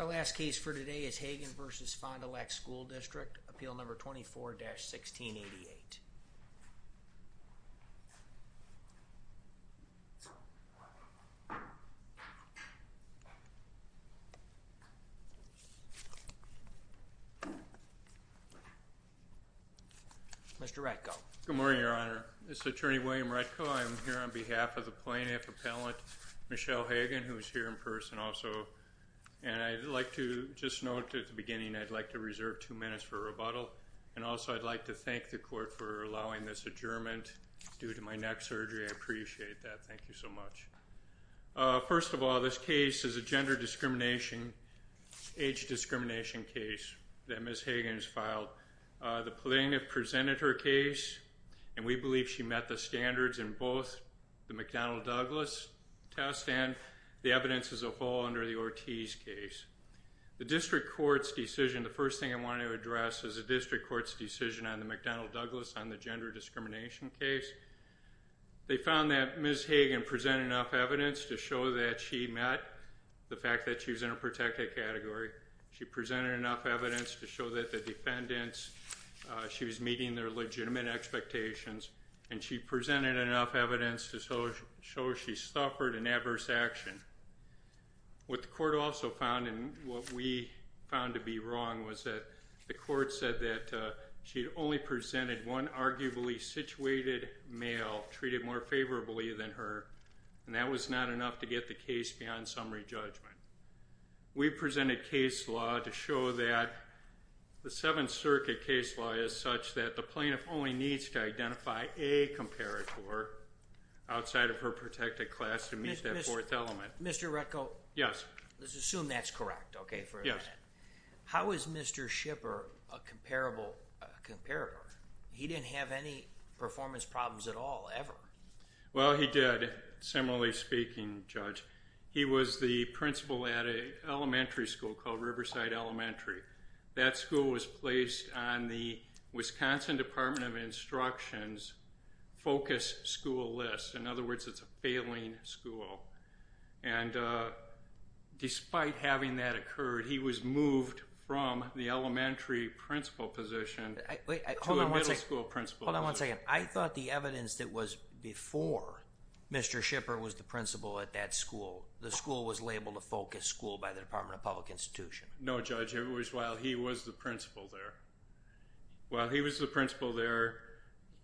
Our last case for today is Hagen v. Fond du Lac School District, Appeal No. 24-1688. Mr. Retko. Good morning, Your Honor. This is Attorney William Retko. I am here on behalf of the plaintiff, Appellant Michelle Hagen, who is here in person also. I'd like to just note at the beginning, I'd like to reserve two minutes for rebuttal, and also I'd like to thank the court for allowing this adjournment due to my neck surgery. I appreciate that. Thank you so much. First of all, this case is a gender discrimination, age discrimination case that Ms. Hagen has The plaintiff presented her case, and we believe she met the standards in both the McDonnell Douglas test and the evidence as a whole under the Ortiz case. The District Court's decision, the first thing I want to address is the District Court's decision on the McDonnell Douglas on the gender discrimination case. They found that Ms. Hagen presented enough evidence to show that she met the fact that she was in a protected category. She presented enough evidence to show that the defendants, she was meeting their legitimate expectations, and she presented enough evidence to show she suffered an adverse action. What the court also found, and what we found to be wrong, was that the court said that she only presented one arguably situated male treated more favorably than her, and that was not enough to get the case beyond summary judgment. We presented case law to show that the Seventh Circuit case law is such that the plaintiff only needs to identify a comparator outside of her protected class to meet that fourth element. Mr. Retko? Yes. Let's assume that's correct, okay? Yes. For a minute. How is Mr. Shipper a comparable, a comparator? He didn't have any performance problems at all, ever. Well, he did, similarly speaking, Judge. He was the principal at an elementary school called Riverside Elementary. That school was placed on the Wisconsin Department of Instruction's focus school list. In other words, it's a failing school. And despite having that occur, he was moved from the elementary principal position to a middle school principal position. Hold on one second. I thought the evidence that was before Mr. Shipper was the principal at that school, the school was labeled a focus school by the Department of Public Institution. No, Judge. It was while he was the principal there. While he was the principal there,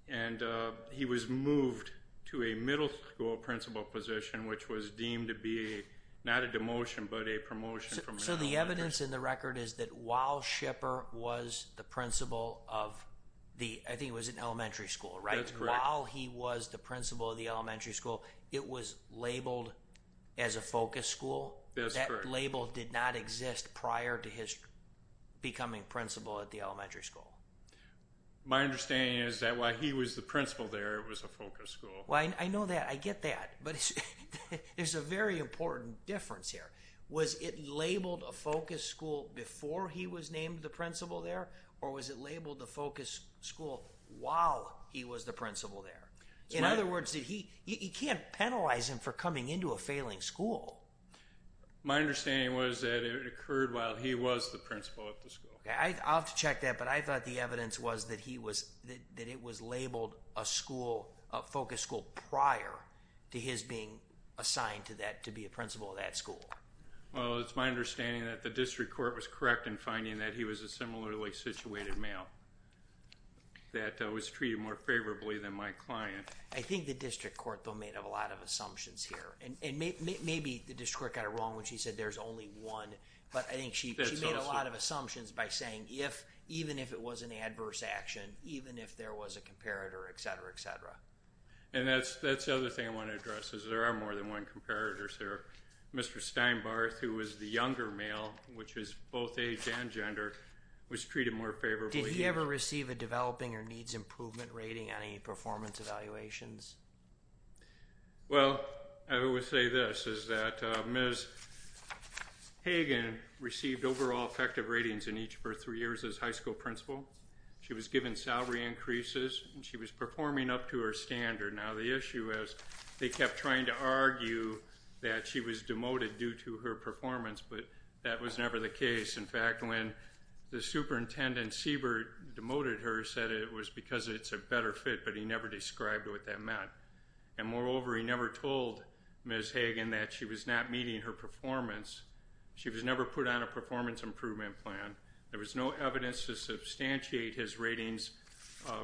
and he was moved to a middle school principal position, which was deemed to be not a demotion, but a promotion. So the evidence in the record is that while Shipper was the principal of the, I think it was an elementary school, right? That's correct. While he was the principal of the elementary school, it was labeled as a focus school? That's correct. So that label did not exist prior to his becoming principal at the elementary school? My understanding is that while he was the principal there, it was a focus school. I know that. I get that. But there's a very important difference here. Was it labeled a focus school before he was named the principal there? Or was it labeled a focus school while he was the principal there? In other words, you can't penalize him for coming into a failing school. My understanding was that it occurred while he was the principal at the school. I'll have to check that, but I thought the evidence was that he was, that it was labeled a school, a focus school prior to his being assigned to that, to be a principal at that Well, it's my understanding that the district court was correct in finding that he was a similarly situated male that was treated more favorably than my client. I think the district court, though, made a lot of assumptions here, and maybe the district court got it wrong when she said there's only one, but I think she made a lot of assumptions by saying if, even if it was an adverse action, even if there was a comparator, etc., etc. And that's the other thing I want to address, is there are more than one comparator, sir. Mr. Steinbarth, who was the younger male, which was both age and gender, was treated more favorably. Did he ever receive a developing or needs improvement rating on any performance evaluations? Well, I will say this, is that Ms. Hagen received overall effective ratings in each of her three years as high school principal. She was given salary increases, and she was performing up to her standard. Now the issue is, they kept trying to argue that she was demoted due to her performance, but that was never the case. In fact, when the superintendent, Siebert, demoted her, said it was because it's a better fit, but he never described what that meant. And moreover, he never told Ms. Hagen that she was not meeting her performance. She was never put on a performance improvement plan. There was no evidence to substantiate his ratings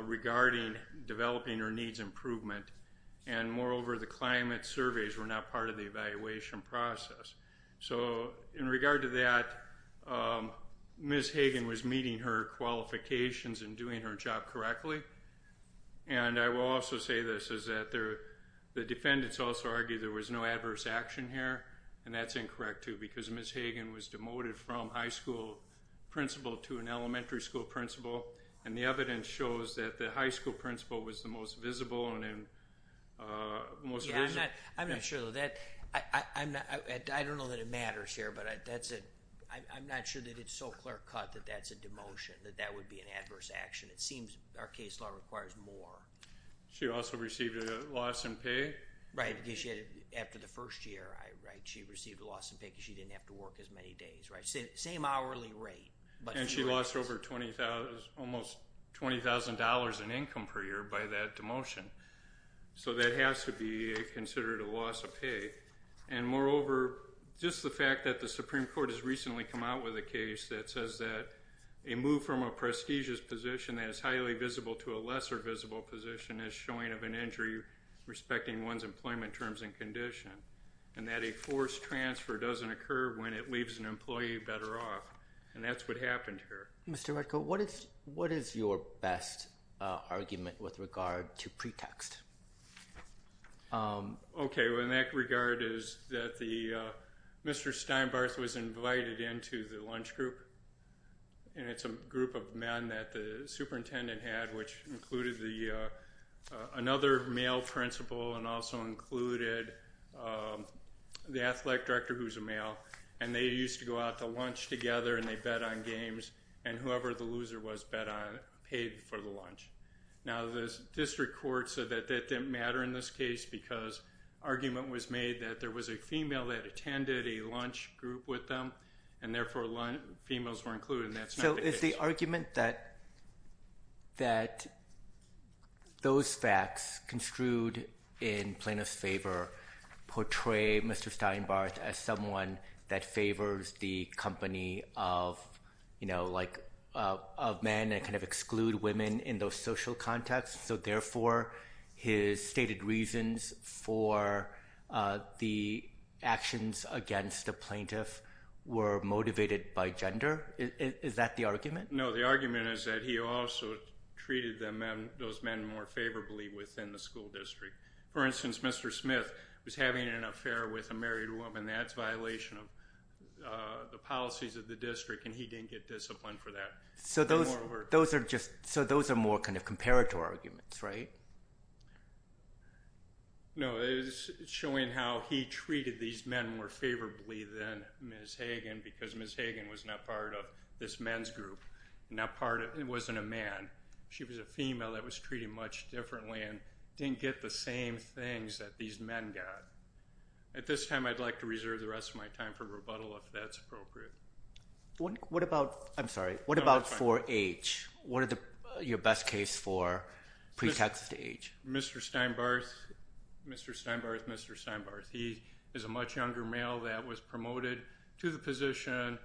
regarding developing or needs improvement, and moreover, the climate surveys were not part of the evaluation process. So in regard to that, Ms. Hagen was meeting her qualifications and doing her job correctly. And I will also say this, is that the defendants also argued there was no adverse action here, and that's incorrect, too, because Ms. Hagen was demoted from high school principal to an elementary school principal, and the evidence shows that the high school principal was the most visible and most... I'm not sure though, I don't know that it matters here, but I'm not sure that it's so clear cut that that's a demotion, that that would be an adverse action. It seems our case law requires more. She also received a loss in pay. Right, because after the first year, she received a loss in pay because she didn't have to work as many days, right? Same hourly rate, but... And she lost over $20,000, almost $20,000 in income per year by that demotion. So that has to be considered a loss of pay, and moreover, just the fact that the Supreme Court has recently come out with a case that says that a move from a prestigious position that is highly visible to a lesser visible position is showing of an injury respecting one's employment terms and condition, and that a forced transfer doesn't occur when it leaves an employee better off, and that's what happened here. Mr. Redcoat, what is your best argument with regard to pretext? Okay, well in that regard is that Mr. Steinbarth was invited into the lunch group, and it's a group of men that the superintendent had, which included another male principal and also included the athletic director, who's a male, and they used to go out to lunch together and they bet on games, and whoever the loser was paid for the lunch. Now the district court said that that didn't matter in this case, because argument was made that there was a female that attended a lunch group with them, and therefore females were included, and that's not the case. So is the argument that those facts construed in plaintiff's favor portray Mr. Steinbarth as someone that favors the company of men and kind of exclude women in those social contexts, so therefore his stated reasons for the actions against the plaintiff were motivated by gender? Is that the argument? No, the argument is that he also treated those men more favorably within the school district. For instance, Mr. Smith was having an affair with a married woman, that's a violation of the policies of the district, and he didn't get disciplined for that. So those are more kind of comparator arguments, right? No, it's showing how he treated these men more favorably than Ms. Hagen, because Ms. Hagen was not part of this men's group, and wasn't a man, she was a female that was treated much differently and didn't get the same things that these men got. At this time, I'd like to reserve the rest of my time for rebuttal if that's appropriate. What about, I'm sorry, what about for age? What are your best case for pre-Texas age? Mr. Steinbarth, Mr. Steinbarth, Mr. Steinbarth, he is a much younger male that was promoted to the position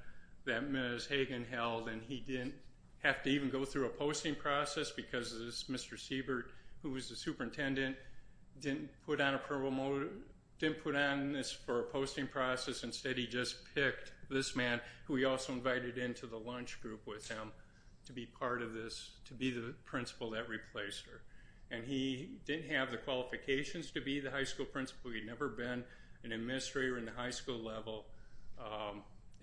that Ms. Hagen held, and he didn't have to even go through a posting process because this Mr. Siebert, who was the superintendent, didn't put on a promo, didn't put on this for a posting process, instead he just picked this man, who he also invited into the lunch group with him, to be part of this, to be the principal that replaced her. And he didn't have the qualifications to be the high school principal, he'd never been an administrator in the high school level,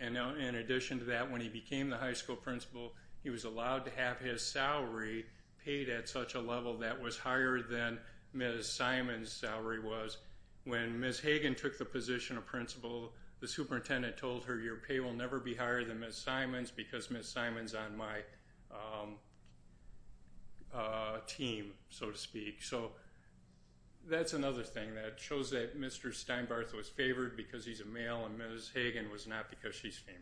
and in addition to that, when he became the high school principal, he was allowed to have his salary paid at such a level that was higher than Ms. Simon's salary was. When Ms. Hagen took the position of principal, the superintendent told her, your pay will never be higher than Ms. Simon's because Ms. Simon's on my team, so to speak. So that's another thing that shows that Mr. Steinbarth was favored because he's a male and Ms. Hagen was not because she's female.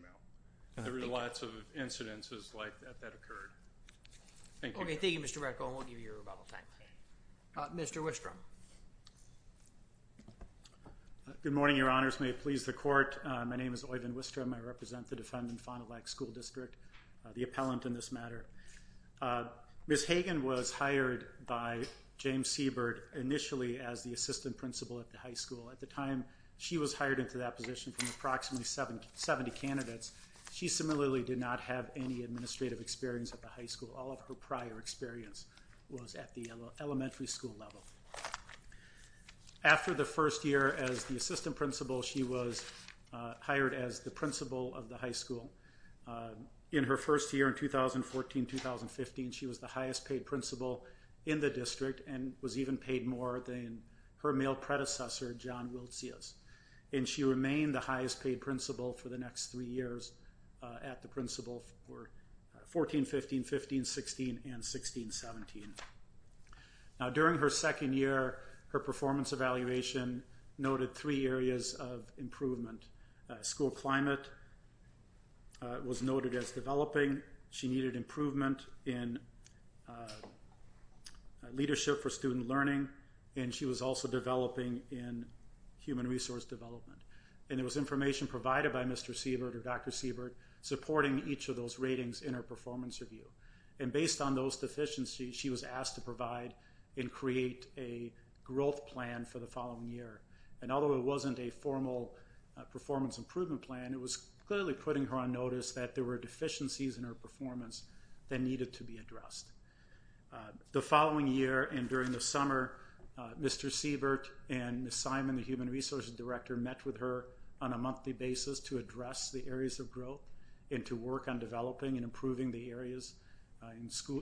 There were lots of incidences like that that occurred. Thank you. Okay, thank you Mr. Retko, and we'll give you your rebuttal time. Mr. Wistrom. Good morning, your honors, may it please the court, my name is Oyvind Wistrom, I represent the defendant, Fond du Lac School District, the appellant in this matter. Ms. Hagen was hired by James Siebert initially as the assistant principal at the high school. At the time she was hired into that position from approximately 70 candidates, she similarly did not have any administrative experience at the high school, all of her prior experience was at the elementary school level. After the first year as the assistant principal, she was hired as the principal of the high school. In her first year in 2014-2015, she was the highest paid principal in the district and was even paid more than her male predecessor, John Wiltzius, and she remained the highest paid principal for the next three years at the principal for 2014-15, 2015-16, and 2016-17. Now during her second year, her performance evaluation noted three areas of improvement. School climate was noted as developing. She needed improvement in leadership for student learning, and she was also developing in human resource development, and there was information provided by Mr. Siebert or Dr. Siebert supporting each of those ratings in her performance review, and based on those deficiencies, she was asked to provide and create a growth plan for the following year, and although it wasn't a formal performance improvement plan, it was clearly putting her on notice that there were deficiencies in her performance that needed to be addressed. The following year and during the summer, Mr. Siebert and Ms. Simon, the human resources director, met with her on a monthly basis to address the areas of growth and to work on developing and improving the areas,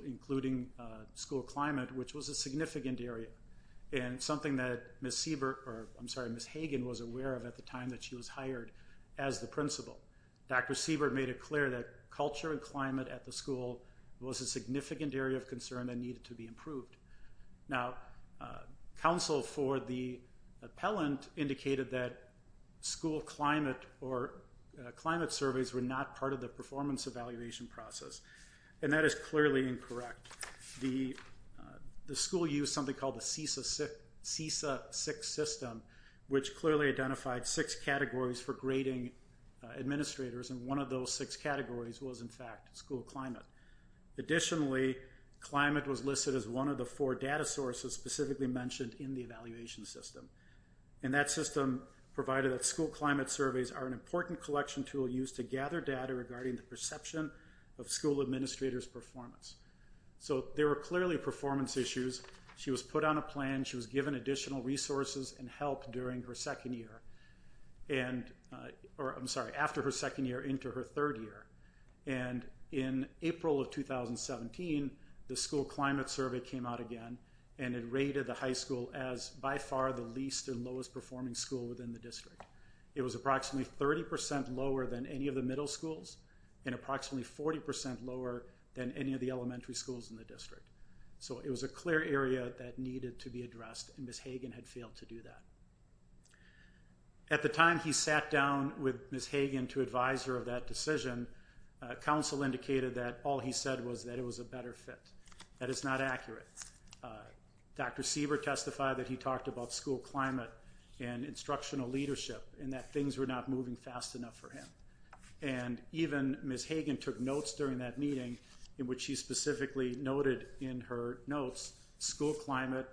including school climate, which was a significant area, and something that Ms. Siebert, or I'm sorry, Ms. Hagen was aware of at the time that she was hired as the principal. Dr. Siebert made it clear that culture and climate at the school was a significant area of concern that needed to be improved. Now, counsel for the appellant indicated that school climate or climate surveys were not part of the performance evaluation process, and that is clearly incorrect. The school used something called the CESA-6 system, which clearly identified six categories for grading administrators, and one of those six categories was, in fact, school climate. Additionally, climate was listed as one of the four data sources specifically mentioned in the evaluation system, and that system provided that school climate surveys are an important collection tool used to gather data regarding the perception of school administrators' performance. So, there were clearly performance issues. She was put on a plan, she was given additional resources and help during her second year, and, or I'm sorry, after her second year into her third year, and in April of 2017, the school climate survey came out again, and it rated the high school as by far the least and lowest performing school within the district. It was approximately 30% lower than any of the middle schools, and approximately 40% lower than any of the elementary schools in the district, so it was a clear area that needed to be addressed, and Ms. Hagen had failed to do that. At the time he sat down with Ms. Hagen to advise her of that decision, counsel indicated that all he said was that it was a better fit, that it's not accurate. Dr. Sieber testified that he talked about school climate and instructional leadership and that things were not moving fast enough for him, and even Ms. Hagen took notes during that meeting in which she specifically noted in her notes, school climate,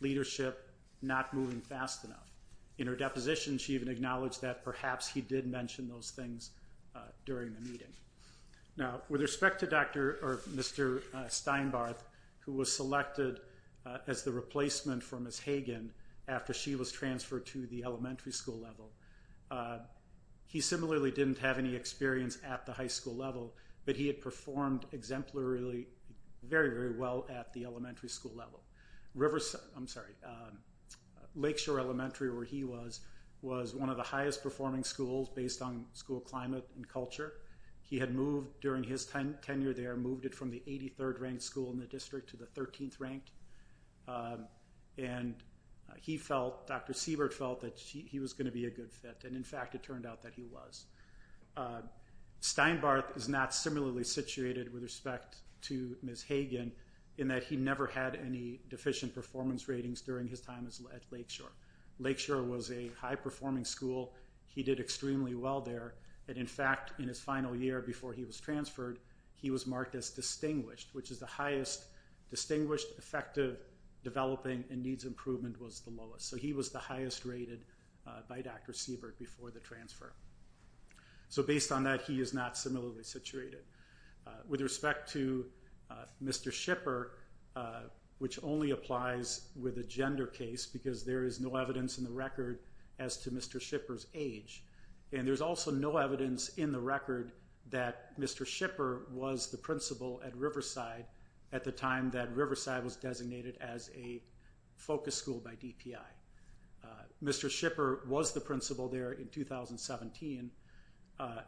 leadership, not moving fast enough. In her deposition, she even acknowledged that perhaps he did mention those things during the meeting. Now with respect to Dr., or Mr. Steinbarth, who was selected as the replacement for Ms. Hagen after she was transferred to the elementary school level, he similarly didn't have any experience at the high school level, but he had performed exemplarily, very, very well at the elementary school level. Riverside, I'm sorry, Lakeshore Elementary where he was, was one of the highest performing schools based on school climate and culture. He had moved during his tenure there, moved it from the 83rd ranked school in the district to the 13th ranked, and he felt, Dr. Siebert felt that he was going to be a good fit, and in fact, it turned out that he was. Steinbarth is not similarly situated with respect to Ms. Hagen in that he never had any deficient performance ratings during his time at Lakeshore. Lakeshore was a high performing school. He did extremely well there, and in fact, in his final year before he was transferred, he was marked as distinguished, which is the highest distinguished, effective, developing, and needs improvement was the lowest. So he was the highest rated by Dr. Siebert before the transfer. So based on that, he is not similarly situated. With respect to Mr. Shipper, which only applies with a gender case because there is no evidence in the record as to Mr. Shipper's age, and there's also no evidence in the record that Mr. Shipper was the principal at Riverside at the time that Riverside was designated as a focus school by DPI. Mr. Shipper was the principal there in 2017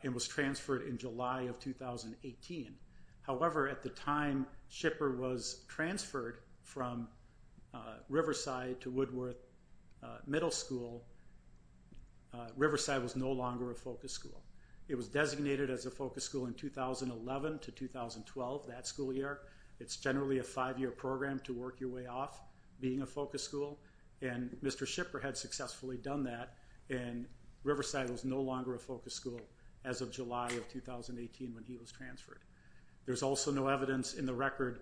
and was transferred in July of 2018. However, at the time Shipper was transferred from Riverside to Woodworth Middle School, Riverside was no longer a focus school. It was designated as a focus school in 2011 to 2012, that school year. It's generally a five-year program to work your way off being a focus school, and Mr. Shipper had successfully done that, and Riverside was no longer a focus school as of July of 2018 when he was transferred. There's also no evidence in the record,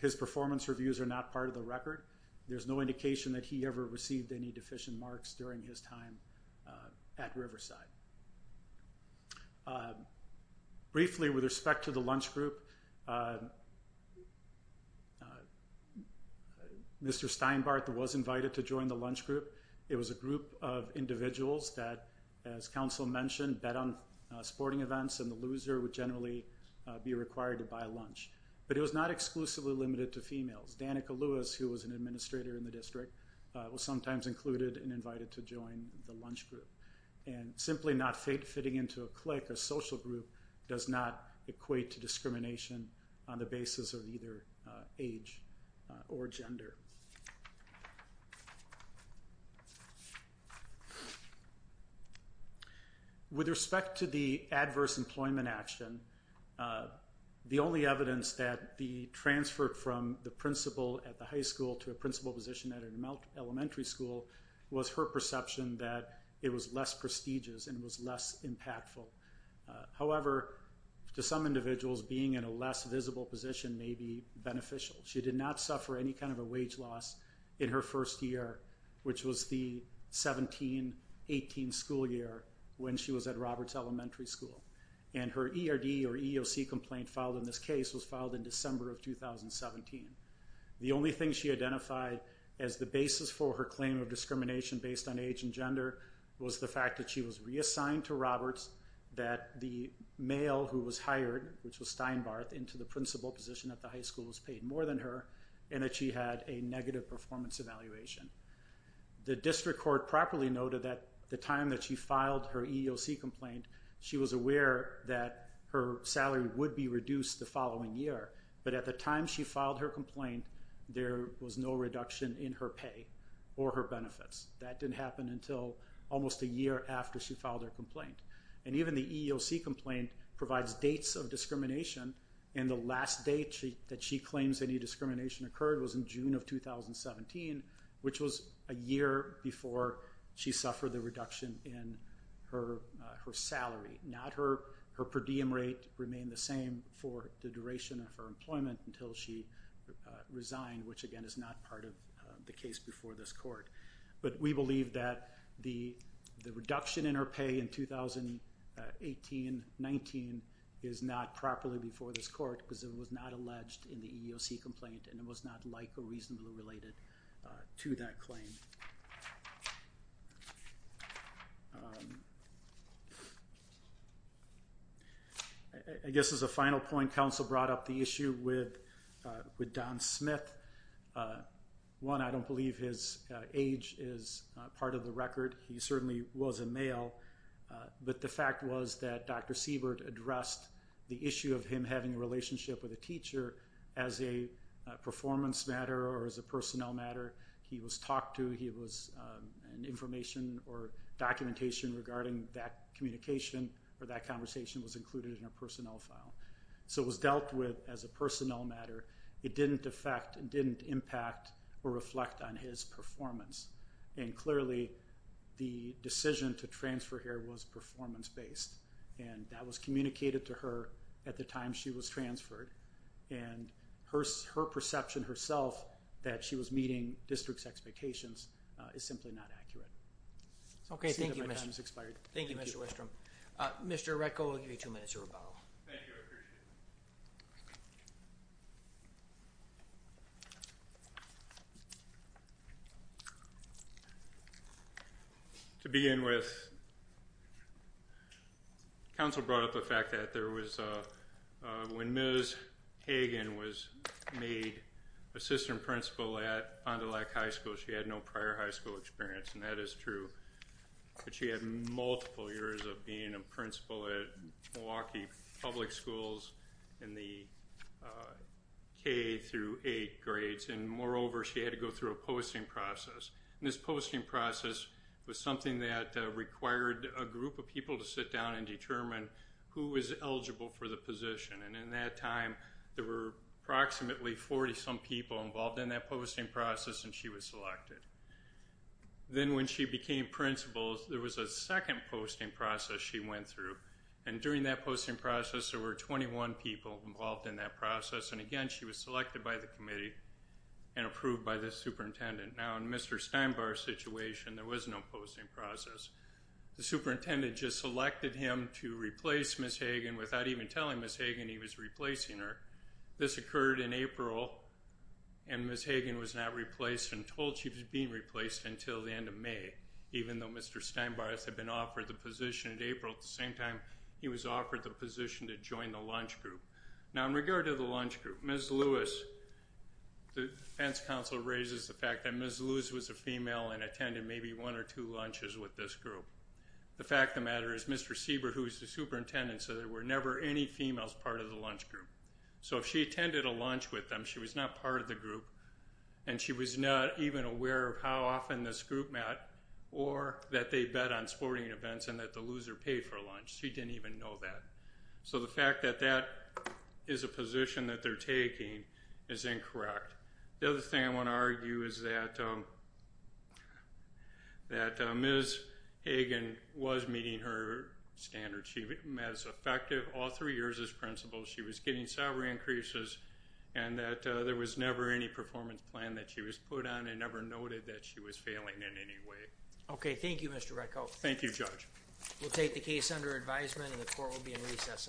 his performance reviews are not part of the record. There's no indication that he ever received any deficient marks during his time at Riverside. Briefly, with respect to the lunch group, Mr. Steinbart was invited to join the lunch group. It was a group of individuals that, as council mentioned, bet on sporting events, and the loser would generally be required to buy lunch, but it was not exclusively limited to females. Danica Lewis, who was an administrator in the district, was sometimes included and invited to join the lunch group, and simply not fitting into a clique, a social group, does not equate to discrimination on the basis of either age or gender. With respect to the adverse employment action, the only evidence that the transfer from the principal at the high school to a principal position at an elementary school was her perception that it was less prestigious and was less impactful. However, to some individuals, being in a less visible position may be beneficial. She did not suffer any kind of a wage loss in her first year, which was the 17-18 school year, when she was at Roberts Elementary School, and her ERD or EOC complaint filed in this year, 2017. The only thing she identified as the basis for her claim of discrimination based on age and gender was the fact that she was reassigned to Roberts, that the male who was hired, which was Steinbart, into the principal position at the high school was paid more than her, and that she had a negative performance evaluation. The district court properly noted that the time that she filed her EOC complaint, she was aware that her salary would be reduced the following year, but at the time she filed her complaint, there was no reduction in her pay or her benefits. That didn't happen until almost a year after she filed her complaint. And even the EOC complaint provides dates of discrimination, and the last date that she claims any discrimination occurred was in June of 2017, which was a year before she suffered the reduction in her salary. Her per diem rate remained the same for the duration of her employment until she resigned, which again is not part of the case before this court. But we believe that the reduction in her pay in 2018-19 is not properly before this court because it was not alleged in the EOC complaint, and it was not like or reasonably related to that claim. I guess as a final point, counsel brought up the issue with Don Smith. One, I don't believe his age is part of the record. He certainly was a male, but the fact was that Dr. Siebert addressed the issue of him having a relationship with a teacher as a performance matter or as a personnel matter. He was talked to. He was, and information or documentation regarding that communication or that conversation was included in her personnel file. So it was dealt with as a personnel matter. It didn't affect, it didn't impact or reflect on his performance. And clearly, the decision to transfer here was performance-based, and that was communicated to her at the time she was transferred, and her perception herself that she was meeting district's expectations is simply not accurate. Okay. Thank you, Mr. Westrom. Mr. Retko, I'll give you two minutes to rebuttal. Thank you. I appreciate it. To begin with, counsel brought up the fact that there was a, when Ms. Hagen was made assistant principal at Fond du Lac High School, she had no prior high school experience, and that is true. But she had multiple years of being a principal at Milwaukee Public Schools in the K through eight grades. And moreover, she had to go through a posting process, and this posting process was something that required a group of people to sit down and determine who was eligible for the position. And in that time, there were approximately 40-some people involved in that posting process, and she was selected. Then, when she became principal, there was a second posting process she went through, and during that posting process, there were 21 people involved in that process, and again, she was selected by the committee and approved by the superintendent. Now, in Mr. Steinbar's situation, there was no posting process. The superintendent just selected him to replace Ms. Hagen without even telling Ms. Hagen he was replacing her. This occurred in April, and Ms. Hagen was not replaced and told she was being replaced until the end of May, even though Mr. Steinbar's had been offered the position in April at the same time he was offered the position to join the lunch group. Now, in regard to the lunch group, Ms. Lewis, the defense counsel raises the fact that Ms. Lewis was a female and attended maybe one or two lunches with this group. The fact of the matter is Mr. Siebert, who is the superintendent, said there were never any females part of the lunch group. So if she attended a lunch with them, she was not part of the group, and she was not even aware of how often this group met or that they bet on sporting events and that the loser paid for lunch. She didn't even know that. So the fact that that is a position that they're taking is incorrect. The other thing I want to argue is that Ms. Hagen was meeting her standards. She was effective all three years as principal. She was getting salary increases and that there was never any performance plan that she was put on and never noted that she was failing in any way. Okay. Thank you, Mr. Ratko. Thank you, Judge. We'll take the case under advisement and the court will be in recess until tomorrow.